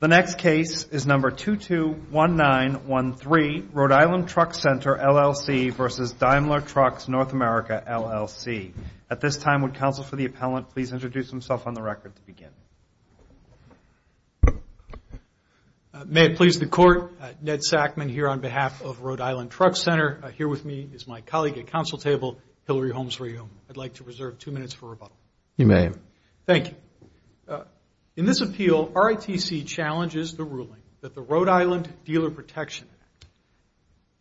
The next case is number 221913, Rhode Island Truck Center, LLC v. Daimler Trucks North America, LLC. At this time, would counsel for the appellant please introduce himself on the record to begin. May it please the Court, Ned Sackman here on behalf of Rhode Island Truck Center. Here with me is my colleague at counsel table, Hillary Holmes-Rayhom. I'd like to reserve two minutes for rebuttal. You may. Thank you. In this appeal, RITC challenges the ruling that the Rhode Island Dealer Protection Act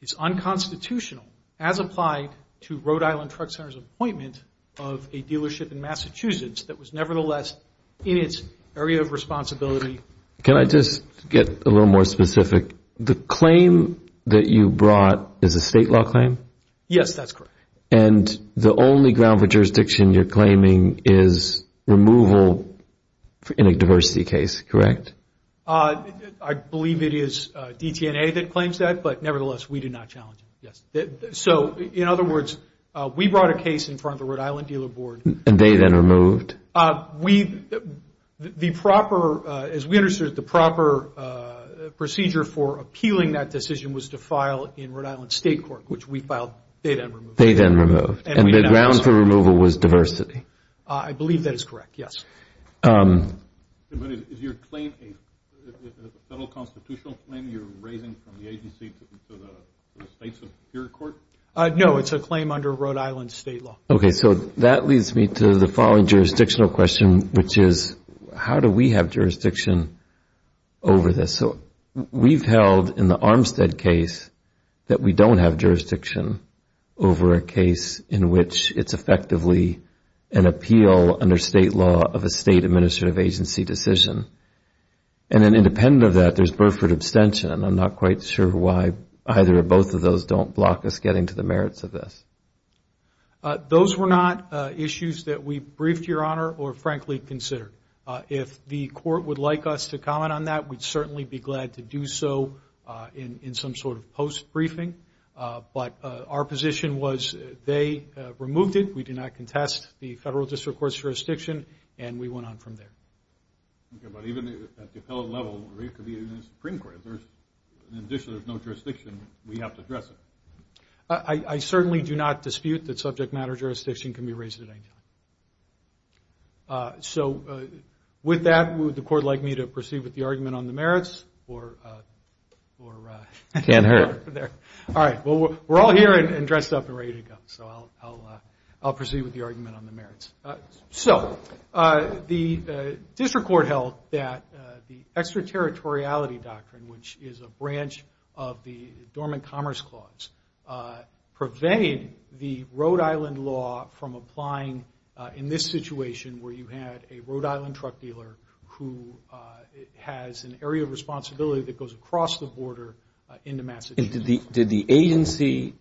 is unconstitutional as applied to Rhode Island Truck Center's appointment of a dealership in Massachusetts that was nevertheless in its area of responsibility. Can I just get a little more specific? The claim that you brought is a state law claim? Yes, that's correct. And the only ground for jurisdiction you're claiming is removal in a diversity case, correct? I believe it is DTNA that claims that, but nevertheless, we do not challenge it, yes. So, in other words, we brought a case in front of the Rhode Island Dealer Board. And they then removed? We, the proper, as we understood it, the proper procedure for appealing that decision was to file in Rhode Island State Court, which we filed data and removal. Data and removal. And the ground for removal was diversity? I believe that is correct, yes. Is your claim a federal constitutional claim you're raising from the agency to the states of your court? No, it's a claim under Rhode Island state law. Okay, so that leads me to the following jurisdictional question, which is how do we have jurisdiction over this? We've held in the Armstead case that we don't have jurisdiction over a case in which it's effectively an appeal under state law of a state administrative agency decision. And then independent of that, there's Burford abstention. I'm not quite sure why either or both of those don't block us getting to the merits of this. Those were not issues that we briefed, Your Honor, or frankly considered. If the court would like us to comment on that, we'd certainly be glad to do so in some sort of post-briefing. But our position was they removed it, we did not contest the federal district court's jurisdiction, and we went on from there. Okay, but even at the appellate level, it could be the United Supreme Court. If there's no jurisdiction, we have to address it. I certainly do not dispute that subject matter jurisdiction can be raised at any time. With that, would the court like me to proceed with the argument on the merits? Can't hurt. We're all here and dressed up and ready to go, so I'll proceed with the argument on the merits. So the district court held that the extraterritoriality doctrine, which is a branch of the Dormant Commerce Clause, prevented the Rhode Island law from applying in this situation where you had a Rhode Island truck dealer who has an area of responsibility that goes across the border into Massachusetts. Did the agency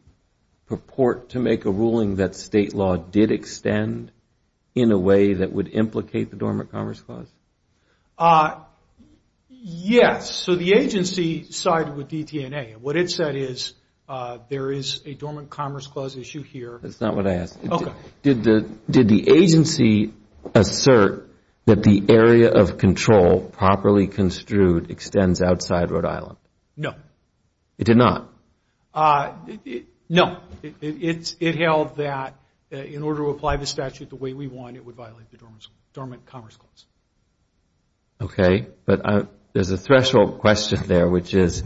purport to make a ruling that state law did extend in a way that would implicate the Dormant Commerce Clause? Yes. So the agency sided with DTNA, and what it said is there is a Dormant Commerce Clause issue here. Did the agency assert that the area of control properly construed extends outside Rhode Island? No. It did not? No. It held that in order to apply the statute the way we want, it would violate the Dormant Commerce Clause. Okay. But there's a threshold question there, which is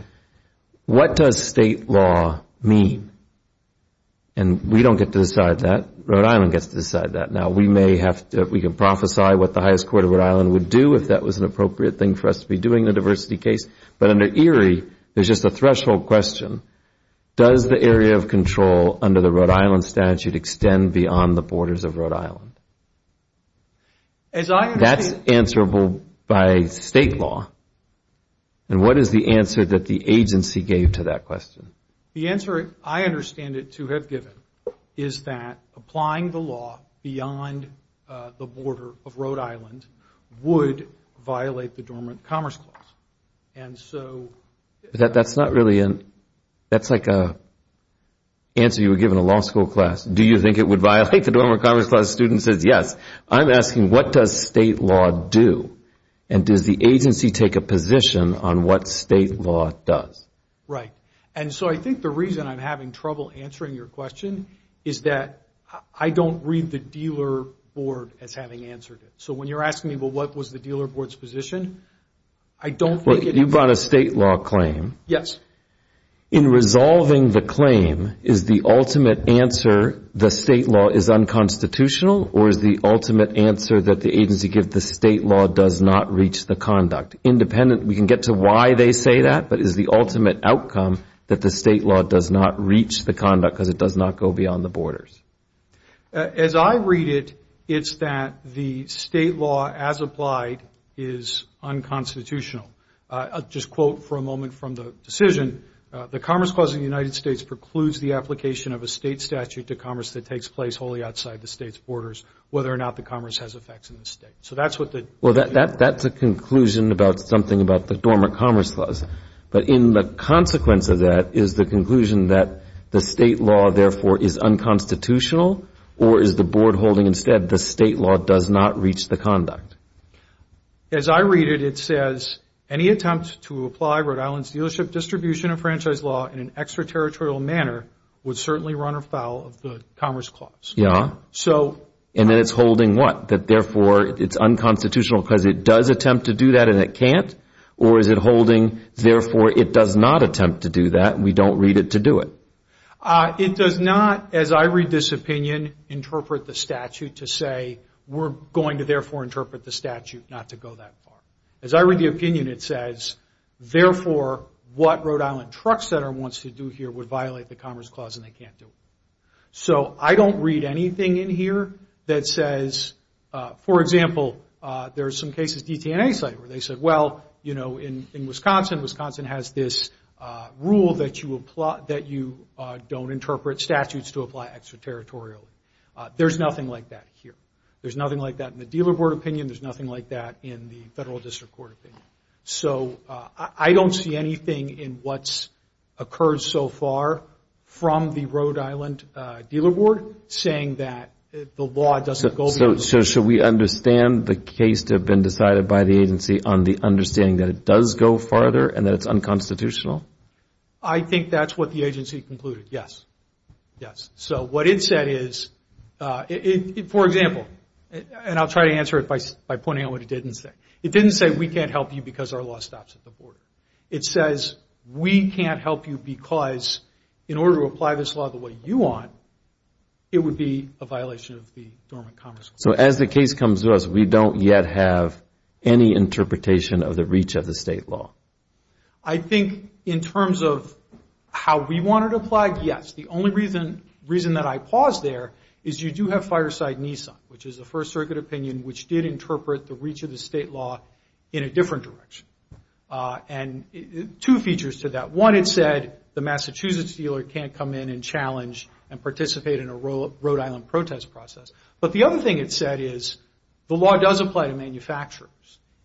what does state law mean? And we don't get to decide that. Rhode Island gets to decide that. Now, we can prophesy what the highest court of Rhode Island would do if that was an appropriate thing for us to be doing the diversity case. But under ERIE, there's just a threshold question. Does the area of control under the Rhode Island statute extend beyond the borders of Rhode Island? That's answerable by state law. And what is the answer that the agency gave to that question? The answer I understand it to have given is that applying the law beyond the border of Rhode Island would violate the Dormant Commerce Clause. And so... That's like an answer you would give in a law school class. Do you think it would violate the Dormant Commerce Clause? Student says yes. I'm asking what does state law do? And does the agency take a position on what state law does? Right. And so I think the reason I'm having trouble answering your question is that I don't read the dealer board as having answered it. So when you're asking me, well, what was the dealer board's position? I don't think it... You brought a state law claim. Yes. In resolving the claim, is the ultimate answer the state law is unconstitutional? Or is the ultimate answer that the agency gives the state law does not reach the conduct? Independent, we can get to why they say that, but is the ultimate outcome that the state law does not reach the conduct because it does not go beyond the borders? As I read it, it's that the state law as applied is unconstitutional. I'll just quote for a moment from the decision. The Commerce Clause of the United States precludes the application of a state statute to commerce that takes place wholly outside the state's borders whether or not the commerce has effects in the state. So that's what the... Well, that's a conclusion about something about the Dormant Commerce Clause. But in the consequence of that is the conclusion that the state law, therefore, is unconstitutional? Or is the board holding instead the state law does not reach the conduct? As I read it, it says, any attempt to apply Rhode Island's dealership distribution of franchise law in an extraterritorial manner would certainly run afoul of the Commerce Clause. Yeah. And then it's holding what? That, therefore, it's unconstitutional because it does attempt to do that and it can't? Or is it holding, therefore, it does not attempt to do that and we don't read it to do it? It does not, as I read this opinion, interpret the statute to say, we're going to, therefore, interpret the statute not to go that far. As I read the opinion, it says, therefore, what Rhode Island Truck Center wants to do here would violate the Commerce Clause and they can't do it. So I don't read anything in here that says, for example, there are some cases, DTNA site, where they said, well, in Wisconsin, Wisconsin has this rule that you don't interpret statutes to apply extraterritorially. There's nothing like that here. There's nothing like that in the Dealer Board opinion. There's nothing like that in the Federal District Court opinion. So I don't see anything in what's occurred so far from the Rhode Island Dealer Board saying that the law doesn't go beyond. So should we understand the case to have been decided by the agency on the understanding that it does go farther and that it's unconstitutional? I think that's what the agency concluded, yes. Yes. So what it said is, for example, and I'll try to answer it by pointing out what it didn't say. It didn't say, we can't help you because our law stops at the border. It says, we can't help you because in order to apply this law the way you want, it would be a violation of the Dormant Commerce Clause. So as the case comes to us, we don't yet have any interpretation of the reach of the state law. I think in terms of how we wanted to apply it, yes. The only reason that I paused there is you do have Fireside Nissan, which is the First Circuit opinion, which did interpret the reach of the state law in a different direction. And two features to that. One, it said the Massachusetts dealer can't come in and challenge and participate in a Rhode Island protest process. But the other thing it said is, the law does apply to manufacturers.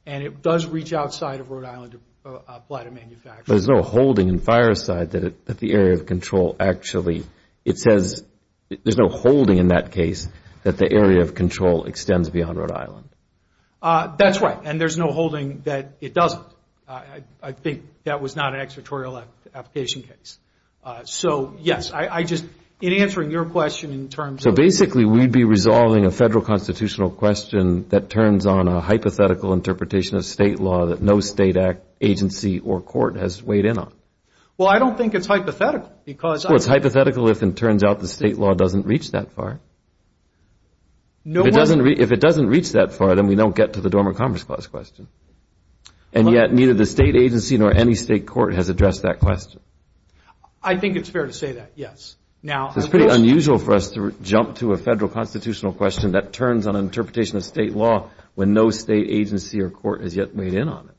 And it does reach outside of Rhode Island to apply to manufacturers. There's no holding in Fireside that the area of control actually, it says, there's no holding in that case that the area of control extends beyond Rhode Island. That's right. And there's no holding that it doesn't. I think that was not an exertorial application case. So yes, I just, in answering your question in terms of... Answering your question that turns on a hypothetical interpretation of state law that no state agency or court has weighed in on. Well, I don't think it's hypothetical because... Well, it's hypothetical if it turns out the state law doesn't reach that far. If it doesn't reach that far, then we don't get to the Dormant Commerce Clause question. And yet, neither the state agency nor any state court has addressed that question. I think it's fair to say that, yes. It's pretty unusual for us to jump to a federal constitutional question that turns on an interpretation of state law when no state agency or court has yet weighed in on it.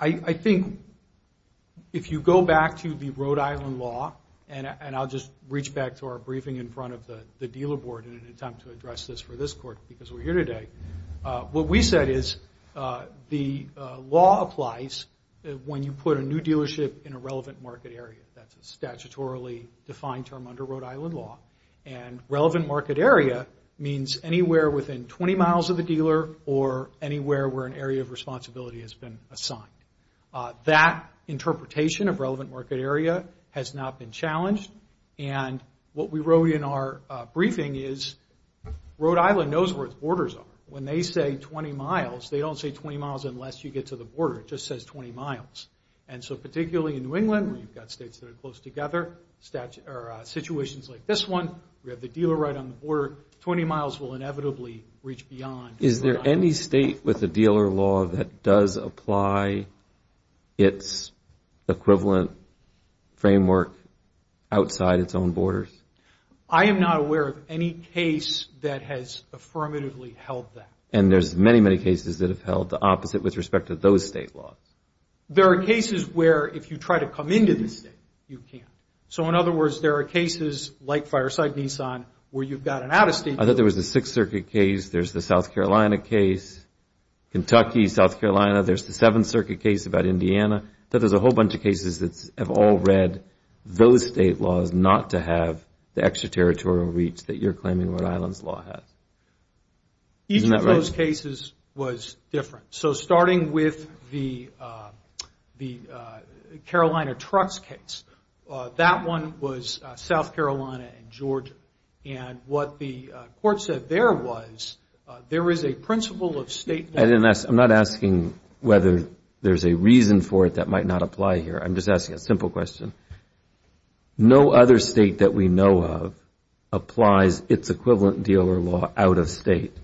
I think if you go back to the Rhode Island law, and I'll just reach back to our briefing in front of the dealer board in an attempt to address this for this court because we're here today. What we said is the law applies when you put a new dealership in a relevant market area. That's a statutorily defined term under Rhode Island law. And relevant market area means anywhere within 20 miles of the dealer or anywhere where an area of responsibility has been assigned. That interpretation of relevant market area has not been challenged. And what we wrote in our briefing is Rhode Island knows where its borders are. When they say 20 miles, they don't say 20 miles unless you get to the border. It just says 20 miles. And so particularly in New England, where you've got states that are close together, situations like this one, we have the dealer right on the border, 20 miles will inevitably reach beyond. Is there any state with the dealer law that does apply its equivalent framework outside its own borders? I am not aware of any case that has affirmatively held that. And there's many, many cases that have held the opposite with respect to those state laws. There are cases where if you try to come into this state, you can't. So in other words, there are cases like Fireside Nissan where you've got an out-of-state dealer. I thought there was a Sixth Circuit case, there's the South Carolina case, Kentucky, South Carolina, there's the Seventh Circuit case about Indiana. I thought there's a whole bunch of cases that have all read those state laws not to have the extra-territorial reach that you're claiming Rhode Island's law has. Each of those cases was different. So starting with the Carolina trucks case, that one was South Carolina and Georgia. And what the court said there was there is a principle of state law. I'm not asking whether there's a reason for it that might not apply here. I'm just asking a simple question. No other state that we know of applies its equivalent dealer law out-of-state.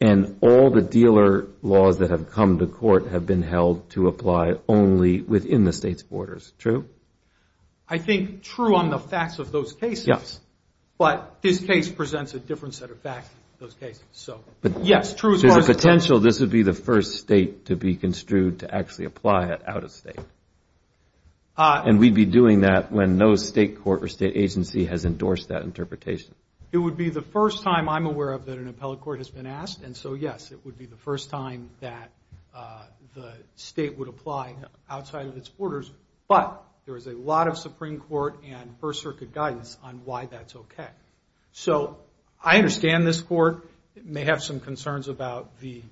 And all the dealer laws that have come to court have been held to apply only within the state's borders. True? I think true on the facts of those cases. But this case presents a different set of facts than those cases. Would you be doing that when no state court or state agency has endorsed that interpretation? It would be the first time I'm aware of that an appellate court has been asked. And so, yes, it would be the first time that the state would apply outside of its borders. But there is a lot of Supreme Court and First Circuit guidance on why that's okay. So I understand this court may have some concerns about the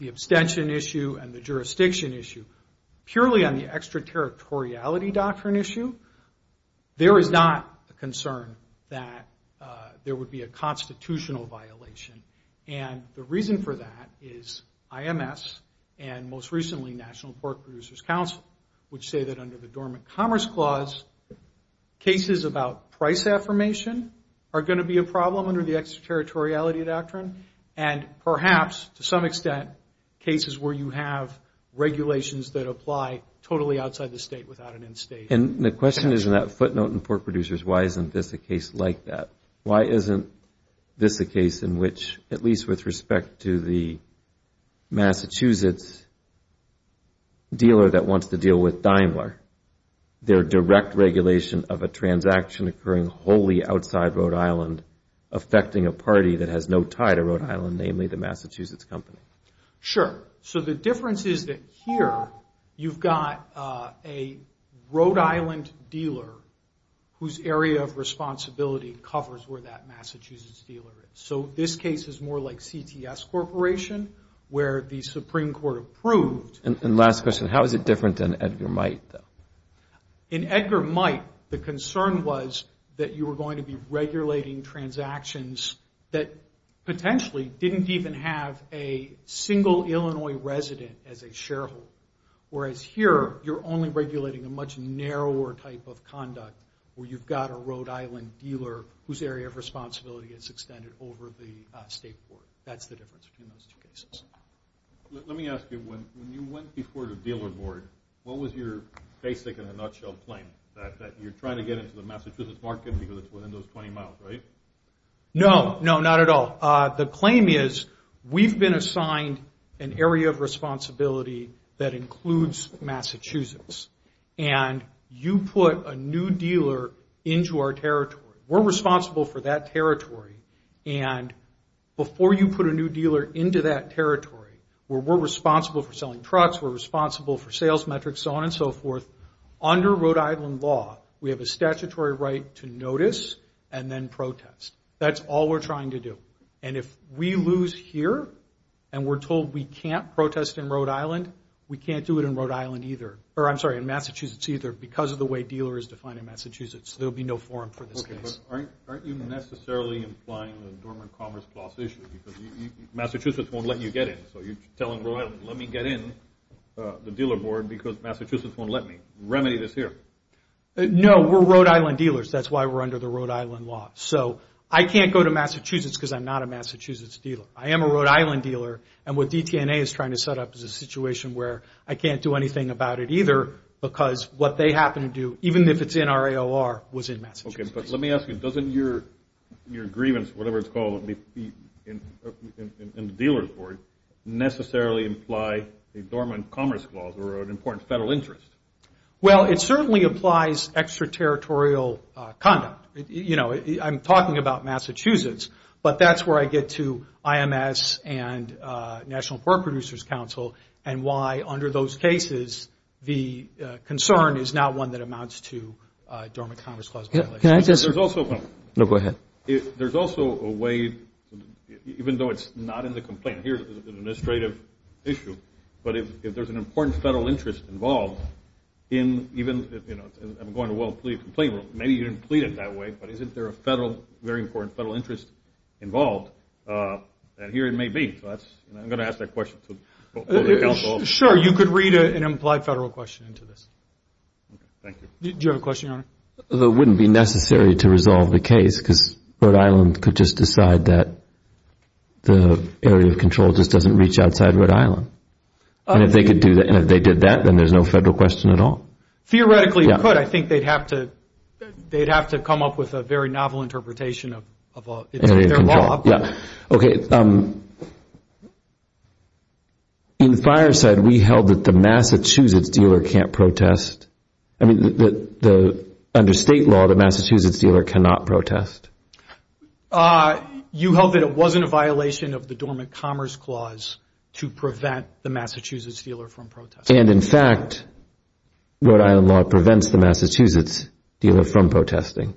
abstention issue and the jurisdiction issue. Purely on the extraterritoriality doctrine issue, there is not a concern that there would be a constitutional violation. And the reason for that is IMS and, most recently, National Pork Producers Council would say that under the Dormant Commerce Clause, cases about price affirmation are going to be a problem under the extraterritoriality doctrine. And perhaps, to some extent, cases where you have regulations that apply totally outside the state without an end state. And the question is in that footnote in Pork Producers, why isn't this a case like that? Why isn't this a case in which, at least with respect to the Massachusetts dealer that wants to deal with Daimler, their direct regulation of a transaction occurring wholly outside Rhode Island affecting a party that has no tie to Rhode Island, namely the Massachusetts company? Sure. So the difference is that here you've got a Rhode Island dealer whose area of responsibility covers where that Massachusetts dealer is. So this case is more like CTS Corporation where the Supreme Court approved. And last question, how is it different than Edgar Might, though? In Edgar Might, the concern was that you were going to be regulating transactions that potentially didn't even have a single Illinois resident as a shareholder. Whereas here, you're only regulating a much narrower type of conduct where you've got a Rhode Island dealer whose area of responsibility is extended over the state court. That's the difference between those two cases. Let me ask you, when you went before the dealer board, what was your basic and a nutshell claim? That you're trying to get into the Massachusetts market because it's within those 20 miles, right? No, no, not at all. The claim is we've been assigned an area of responsibility that includes Massachusetts. And you put a new dealer into our territory. We're responsible for that territory. And before you put a new dealer into that territory where we're responsible for selling trucks, we're responsible for sales metrics, so on and so forth, under Rhode Island law, we have a statutory right to notice and then protest. That's all we're trying to do. And if we lose here and we're told we can't protest in Rhode Island, we can't do it in Massachusetts either because of the way dealer is defined in Massachusetts. There'll be no forum for this case. Okay, but aren't you necessarily implying the Dormant Commerce Clause issue because Massachusetts won't let you get in. So you're telling Rhode Island, let me get in the dealer board because Massachusetts won't let me. Remedy this here. No, we're Rhode Island dealers. That's why we're under the Rhode Island law. So I can't go to Massachusetts because I'm not a Massachusetts dealer. I am a Rhode Island dealer. And what DTNA is trying to set up is a situation where I can't do anything about it either because what they happen to do, even if it's in our AOR, was in Massachusetts. Okay, but let me ask you, doesn't your grievance, whatever it's called in the dealer's board, necessarily imply the Dormant Commerce Clause or an important federal interest? Well, it certainly applies extraterritorial conduct. You know, I'm talking about Massachusetts, but that's where I get to IMS and National Pork Producers Council and why under those cases the concern is not one that amounts to Dormant Commerce Clause violations. Can I just? No, go ahead. There's also a way, even though it's not in the complaint here, it's an administrative issue, but if there's an important federal interest involved in even, you know, I'm going to well plead the complaint, maybe you didn't plead it that way, but isn't there a very important federal interest involved? And here it may be, so I'm going to ask that question. Sure, you could read an implied federal question into this. Do you have a question, Your Honor? It wouldn't be necessary to resolve the case because Rhode Island could just decide that the area of control just doesn't reach outside Rhode Island. And if they did that, then there's no federal question at all. Theoretically you could. I think they'd have to come up with a very novel interpretation of their law. Okay. In Fireside, we held that the Massachusetts dealer can't protest. Under state law, the Massachusetts dealer cannot protest. You held that it wasn't a violation of the Dormant Commerce Clause to prevent the Massachusetts dealer from protesting. And in fact, Rhode Island law prevents the Massachusetts dealer from protesting.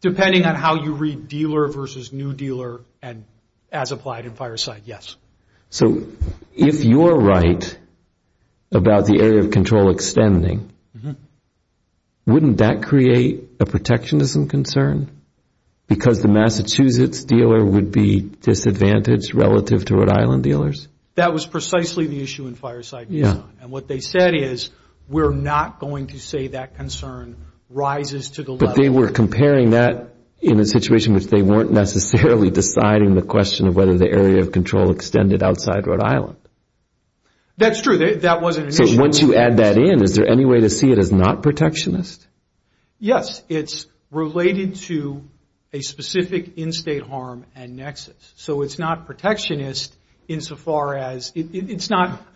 Depending on how you read dealer versus new dealer and as applied in Fireside, yes. So if you're right about the area of control extending, wouldn't that create a protectionism concern? Because the Massachusetts dealer would be disadvantaged relative to Rhode Island dealers? That was precisely the issue in Fireside, Your Honor. And what they said is we're not going to say that concern rises to the level... But they were comparing that in a situation which they weren't necessarily deciding the question of whether the area of control extended outside Rhode Island. That's true. That wasn't an issue. I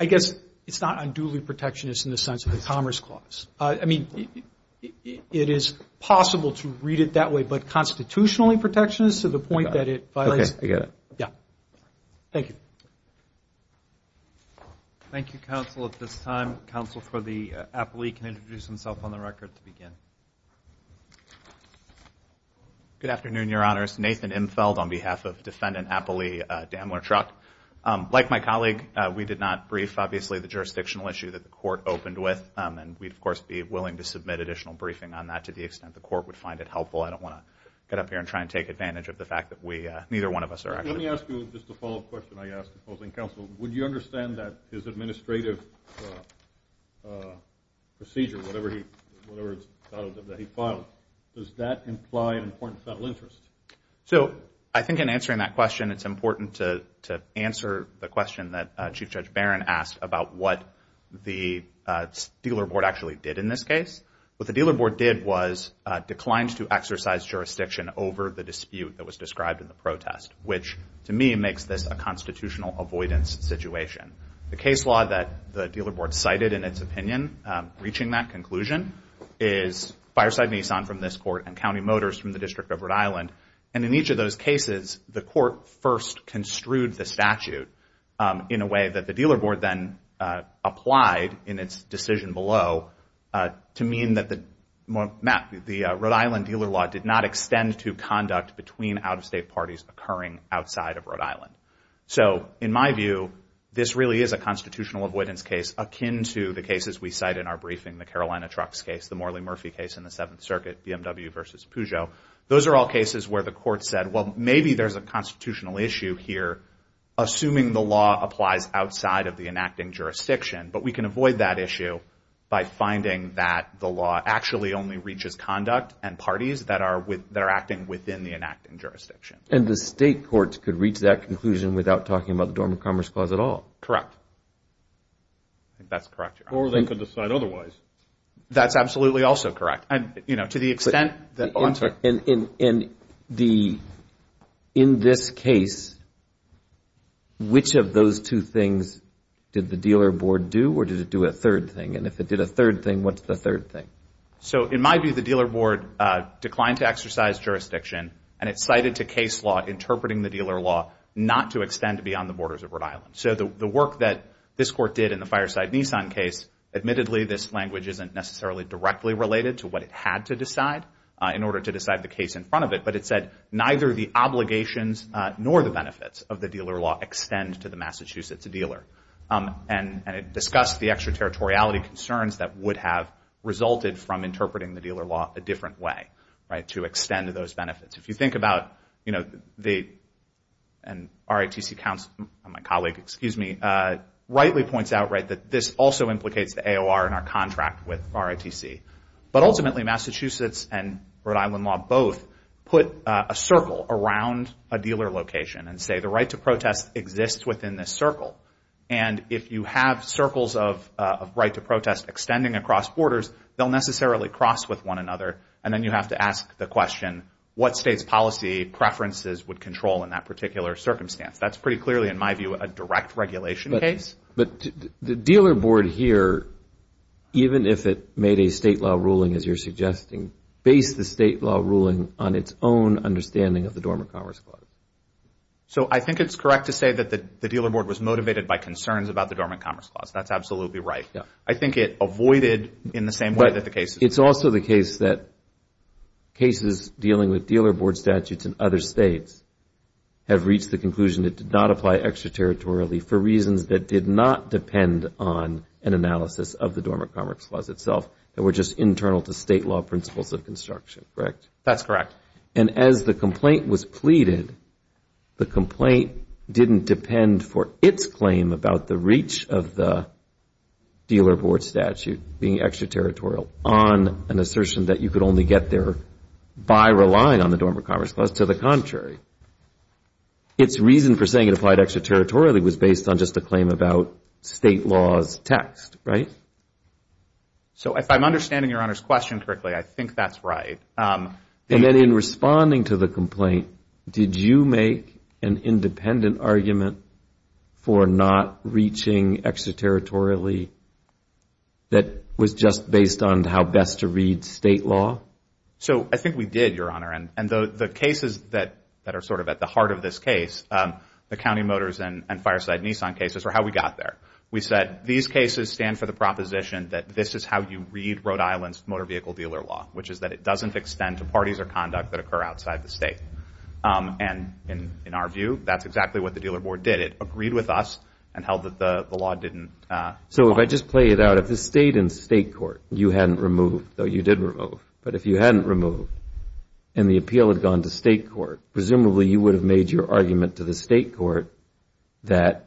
guess it's not unduly protectionist in the sense of the Commerce Clause. I mean, it is possible to read it that way, but constitutionally protectionist to the point that it violates... Okay. I get it. Thank you. Thank you, counsel. At this time, counsel for the appellee can introduce himself on the record to begin. My colleague, we did not brief, obviously, the jurisdictional issue that the court opened with. And we'd, of course, be willing to submit additional briefing on that to the extent the court would find it helpful. I don't want to get up here and try and take advantage of the fact that neither one of us are actually... Let me ask you just a follow-up question I asked opposing counsel. Would you understand that his administrative procedure, whatever it's titled that he filed, does that imply an important federal interest? So I think in answering that question, it's important to answer the question that Chief Judge Barron asked about what the dealer board actually did in this case. What the dealer board did was declined to exercise jurisdiction over the dispute that was described in the protest, which to me makes this a constitutional avoidance situation. The case law that the dealer board cited in its opinion reaching that conclusion is Fireside Nissan from this court and County Motors from the District of Rhode Island. And in each of those cases, the court first construed the statute in a way that the dealer board then applied in its decision below to mean that the Rhode Island dealer law did not extend to conduct between out-of-state parties occurring outside of Rhode Island. So in my view, this really is a constitutional avoidance case akin to the cases we cite in our briefing, including the Carolina trucks case, the Morley Murphy case in the Seventh Circuit, BMW versus Peugeot. Those are all cases where the court said, well, maybe there's a constitutional issue here, assuming the law applies outside of the enacting jurisdiction. But we can avoid that issue by finding that the law actually only reaches conduct and parties that are acting within the enacting jurisdiction. And the state courts could reach that conclusion without talking about the Dormant Commerce Clause at all? Correct. Or they could decide otherwise. That's absolutely also correct. And in this case, which of those two things did the dealer board do or did it do a third thing? And if it did a third thing, what's the third thing? So in my view, the dealer board declined to exercise jurisdiction. And it cited to case law interpreting the dealer law not to extend beyond the borders of Rhode Island. So the work that this court did in the Fireside Nissan case, admittedly, this language isn't necessarily directly related to what it had to decide in order to decide the case in front of it. But it said neither the obligations nor the benefits of the dealer law extend to the Massachusetts dealer. And it discussed the extraterritoriality concerns that would have resulted from interpreting the dealer law a different way, right, to extend those benefits. If you think about, you know, the RITC counsel, my colleague, excuse me, rightly points out, right, that this also implicates the AOR in our contract with RITC. But ultimately, Massachusetts and Rhode Island law both put a circle around a dealer location and say the right to protest exists within this circle. And if you have circles of right to protest extending across borders, they'll necessarily cross with one another. And then you have to ask the question, what state's policy preferences would control in that particular circumstance? That's pretty clearly, in my view, a direct regulation case. But the dealer board here, even if it made a state law ruling, as you're suggesting, based the state law ruling on its own understanding of the Dormant Commerce Clause. So I think it's correct to say that the dealer board was motivated by concerns about the Dormant Commerce Clause. That's absolutely right. I think it avoided in the same way that the case. It's also the case that cases dealing with dealer board statutes in other states have reached the conclusion it did not apply extraterritorially for reasons that did not depend on an analysis of the Dormant Commerce Clause itself. They were just internal to state law principles of construction, correct? That's correct. And as the complaint was pleaded, the complaint didn't depend for its claim about the reach of the dealer board statute being extraterritorial on an assertion that you could only get there by relying on the Dormant Commerce Clause. To the contrary, its reason for saying it applied extraterritorially was based on just a claim about state law's text, right? So if I'm understanding Your Honor's question correctly, I think that's right. And then in responding to the complaint, did you make an independent argument for not reaching extraterritorially that was just based on how best to read state law? So I think we did, Your Honor, and the cases that are sort of at the heart of this case, the County Motors and Fireside Nissan cases, are how we got there. We said these cases stand for the proposition that this is how you read Rhode Island's motor vehicle dealer law, which is that it doesn't extend to parties or conduct that occur outside the state. And in our view, that's exactly what the dealer board did. It agreed with us and held that the law didn't apply. So if I just play it out, if this stayed in state court, you hadn't removed, though you did remove. But if you hadn't removed and the appeal had gone to state court, presumably you would have made your argument to the state court that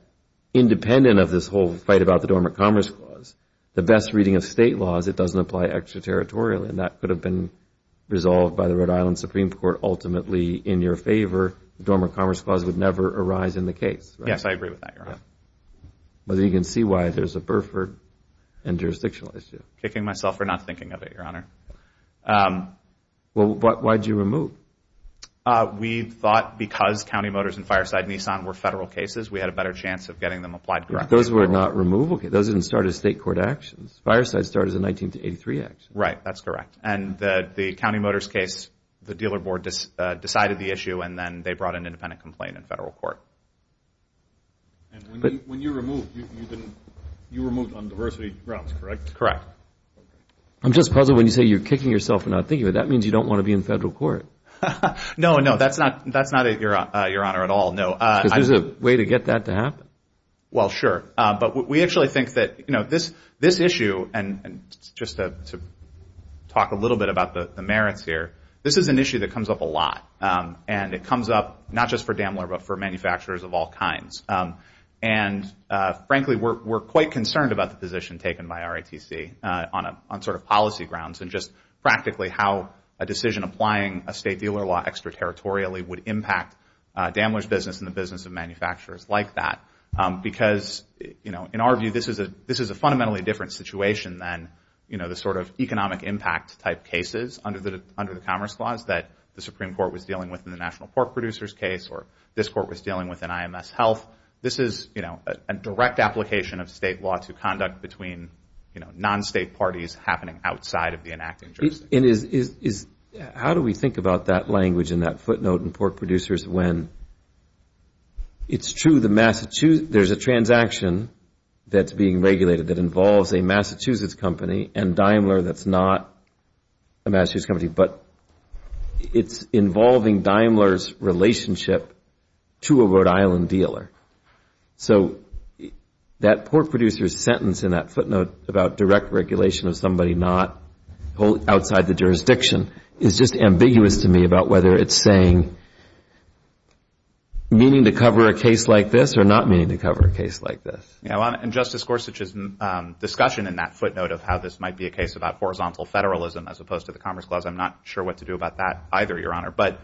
independent of this whole fight about the Dormant Commerce Clause, the best reading of state law is it doesn't apply extraterritorially. And that could have been resolved by the Rhode Island Supreme Court ultimately in your favor. The Dormant Commerce Clause would never arise in the case, right? But you can see why there's a burpher and jurisdictional issue. Kicking myself for not thinking of it, Your Honor. Well, why did you remove? We thought because County Motors and Fireside Nissan were federal cases, we had a better chance of getting them applied correctly. Those were not removal cases. Those didn't start as state court actions. Fireside started as a 1983 action. Right, that's correct. And the County Motors case, the dealer board decided the issue and then they brought an independent complaint in federal court. When you removed, you removed on diversity grounds, correct? Correct. I'm just puzzled when you say you're kicking yourself for not thinking of it. That means you don't want to be in federal court. No, no, that's not it, Your Honor, at all. Because there's a way to get that to happen. Well, sure. But we actually think that this issue, and just to talk a little bit about the merits here, this is an issue that comes up a lot. And it comes up not just for Daimler, but for manufacturers of all kinds. And frankly, we're quite concerned about the position taken by RITC on sort of policy grounds and just practically how a decision applying a state dealer law structure territorially would impact Daimler's business and the business of manufacturers like that. Because, you know, in our view, this is a fundamentally different situation than, you know, the sort of economic impact type cases under the Commerce Clause that the Supreme Court was dealing with in the National Pork Producers case or this court was dealing with in IMS Health. This is, you know, a direct application of state law to conduct between, you know, non-state parties happening outside of the enacting jurisdiction. And how do we think about that language and that footnote in Pork Producers when it's true there's a transaction that's being regulated that involves a Massachusetts company and Daimler that's not a Massachusetts company, but it's involving Daimler's relationship to a Rhode Island dealer. So that Pork Producers sentence in that footnote about direct regulation of somebody not outside the jurisdiction is just ambiguous to me about whether it's saying meaning to cover a case like this or not meaning to cover a case like this. And Justice Gorsuch's discussion in that footnote of how this might be a case about horizontal federalism as opposed to the Commerce Clause, I'm not sure what to do about that either, Your Honor. But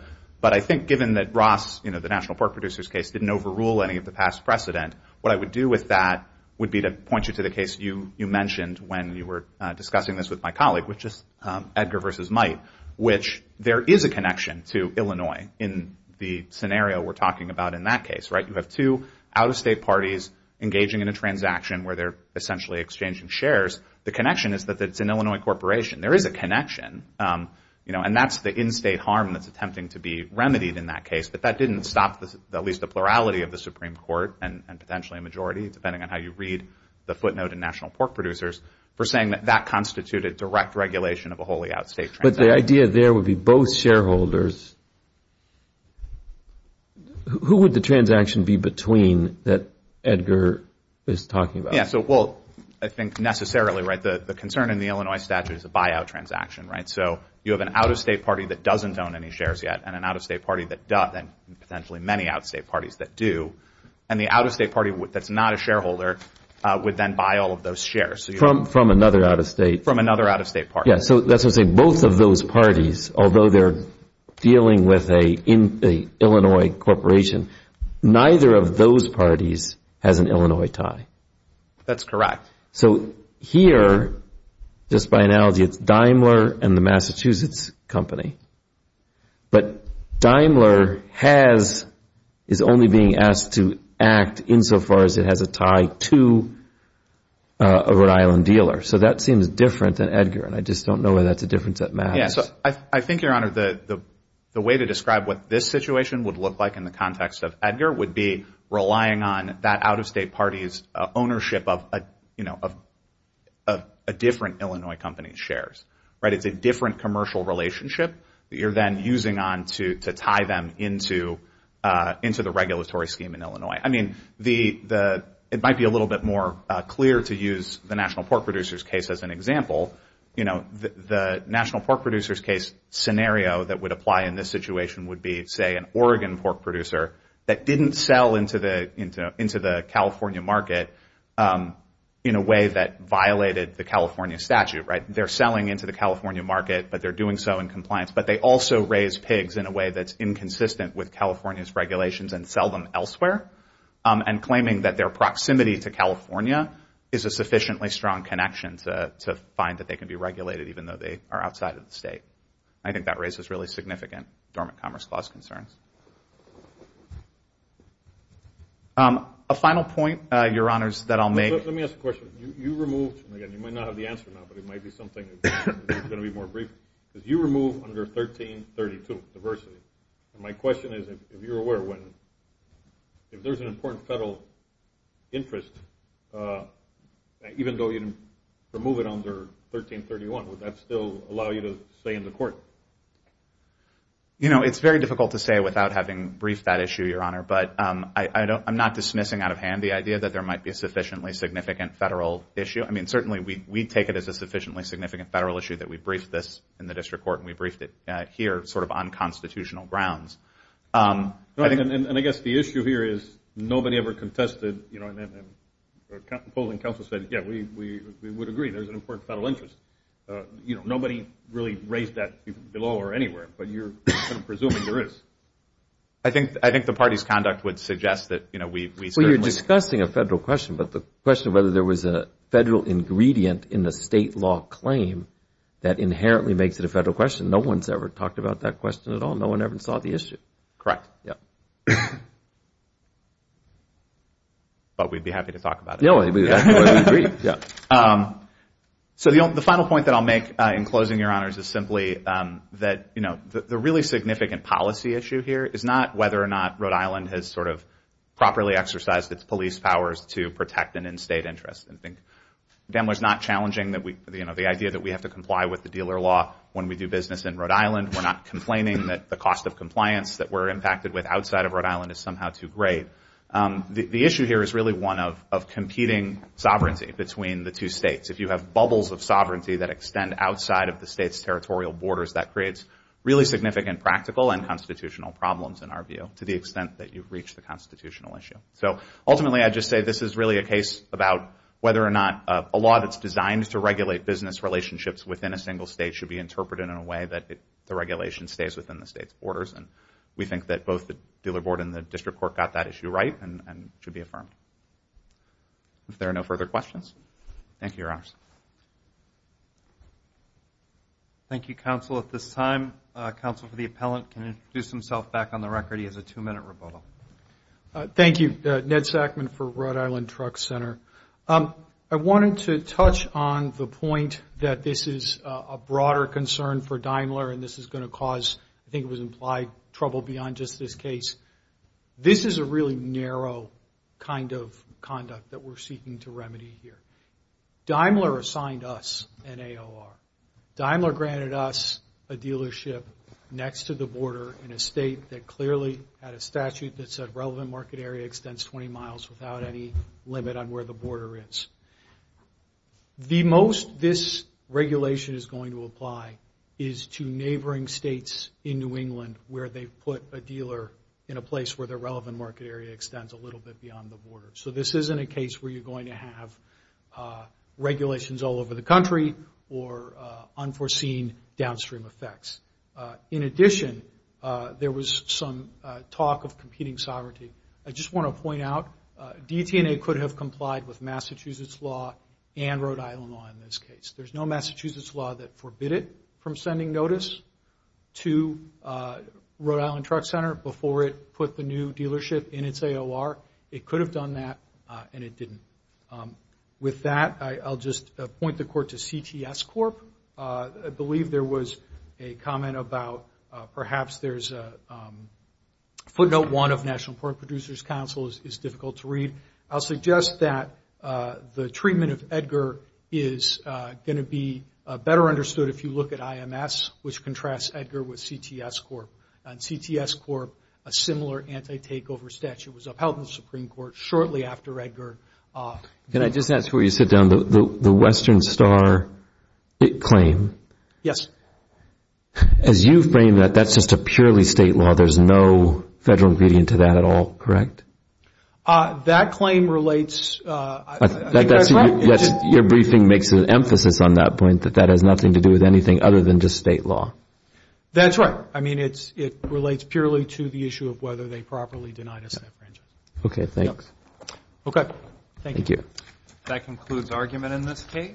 I think given that Ross, you know, the National Pork Producers case didn't overrule any of the past precedent, what I would do with that would be to point you to the case you mentioned when you were discussing this with my colleague, which is Edgar versus Might, which there is a connection to Illinois in the scenario we're talking about in that case, right? You have two out-of-state parties engaging in a transaction where they're essentially exchanging shares. The connection is that it's an Illinois corporation. There is a connection, you know, and that's the in-state harm that's attempting to be remedied in that case. But that didn't stop at least the plurality of the Supreme Court and potentially a majority, depending on how you read the footnote in National Pork Producers, for saying that that constituted direct regulation of a wholly out-of-state transaction. But the idea there would be both shareholders. Who would the transaction be between that Edgar is talking about? Yeah, so, well, I think necessarily, right, the concern in the Illinois statute is a buyout transaction, right? So you have an out-of-state party that doesn't own any shares yet and an out-of-state party that does and potentially many out-of-state parties that do. And the out-of-state party that's not a shareholder would then buy all of those shares. From another out-of-state. From another out-of-state party. Yeah, so that's to say both of those parties, although they're dealing with an Illinois corporation, neither of those parties has an Illinois tie. That's correct. So here, just by analogy, it's Daimler and the Massachusetts company. But Daimler is only being asked to act insofar as it has a tie to a Rhode Island dealer. So that seems different than Edgar, and I just don't know whether that's a difference that matters. Yeah, so I think, Your Honor, the way to describe what this situation would look like in the context of Edgar would be relying on that out-of-state party's ownership of a different Illinois company's shares, right? It's a different commercial relationship that you're then using on to tie them into the regulatory scheme in Illinois. I mean, it might be a little bit more clear to use the National Pork Producers case as an example. You know, the National Pork Producers case scenario that would apply in this situation would be, say, an Oregon pork producer that didn't sell into the California market in a way that violated the California statute, right? They're selling into the California market, but they're doing so in compliance. But they also raise pigs in a way that's inconsistent with California's regulations and sell them elsewhere, and claiming that their proximity to California is a sufficiently strong connection to find that they can be regulated, even though they are outside of the state. I think that raises really significant dormant commerce clause concerns. A final point, Your Honors, that I'll make. Let me ask a question. You removed under 1332 diversity. My question is, if you're aware, if there's an important federal interest, even though you remove it under 1331, would that still allow you to stay in the court? You know, it's very difficult to say without having briefed that issue, Your Honor. But I'm not dismissing out of hand the idea that there might be a sufficiently significant federal issue. I mean, certainly we take it as a sufficiently significant federal issue that we briefed this in the district court and we briefed it here sort of unconstitutional grounds. And I guess the issue here is nobody ever contested, you know, and the polling council said, yeah, we would agree there's an important federal interest. You know, nobody really raised that below or anywhere, but you're presuming there is. I think the party's conduct would suggest that, you know, we certainly... Well, you're discussing a federal question, but the question of whether there was a federal ingredient in the state law claim that inherently makes it a federal question, no one's ever talked about that question at all. No one ever saw the issue. Correct. But we'd be happy to talk about it. So the final point that I'll make in closing, Your Honors, is simply that, you know, the really significant policy issue here is not whether or not Rhode Island has sort of properly exercised its police powers to protect an in-state interest. And I think Dan was not challenging the idea that we have to comply with the dealer law when we do business in Rhode Island. We're not complaining that the cost of compliance that we're impacted with outside of Rhode Island is somehow too great. The issue here is really one of competing sovereignty between the two states. If you have bubbles of sovereignty that extend outside of the state's territorial borders, that creates really significant practical and constitutional problems, in our view, to the extent that you've reached the constitutional issue. So ultimately, I'd just say this is really a case about whether or not a law that's designed to regulate business relationships within a single state should be interpreted in a way that the regulation stays within the state's borders. And we think that both the Dealer Board and the District Court got that issue right and should be affirmed. If there are no further questions, thank you, Your Honors. Thank you, Counsel. At this time, Counsel for the Appellant can introduce himself back on the record. He has a two-minute rebuttal. Thank you. Ned Sackman for Rhode Island Truck Center. I wanted to touch on the point that this is a broader concern for Daimler, and this is going to cause, I think it was implied, trouble beyond just this case. This is a really narrow kind of conduct that we're seeking to remedy here. Daimler assigned us an AOR. Daimler granted us a dealership next to the border in a state that clearly had a statute that said relevant market area extends 20 miles without any limit on where the border is. The most this regulation is going to apply is to neighboring states in New England where they've put a dealer in a place where their relevant market area extends a little bit beyond the border. So this isn't a case where you're going to have regulations all over the country or unforeseen downstream effects. In addition, there was some talk of competing sovereignty. I just want to point out, DT&A could have complied with Massachusetts law and Rhode Island law in this case. There's no Massachusetts law that forbid it from sending notice to Rhode Island Truck Center before it put the new dealership in its AOR. It could have done that, and it didn't. With that, I'll just point the court to CTS Corp. I believe there was a comment about perhaps there's a footnote one of National Pork Producers Council is difficult to read. I'll suggest that the treatment of Edgar is going to be better understood if you look at IMS, which contrasts Edgar with CTS Corp. And CTS Corp., a similar anti-takeover statute was upheld in the Supreme Court shortly after Edgar. Can I just ask where you sit down? The Western Star claim, as you frame that, that's just a purely state law. There's no federal ingredient to that at all, correct? That claim relates... Your briefing makes an emphasis on that point, that that has nothing to do with anything other than just state law. That's right. I mean, it relates purely to the issue of whether they properly denied us that franchise. Okay, thanks.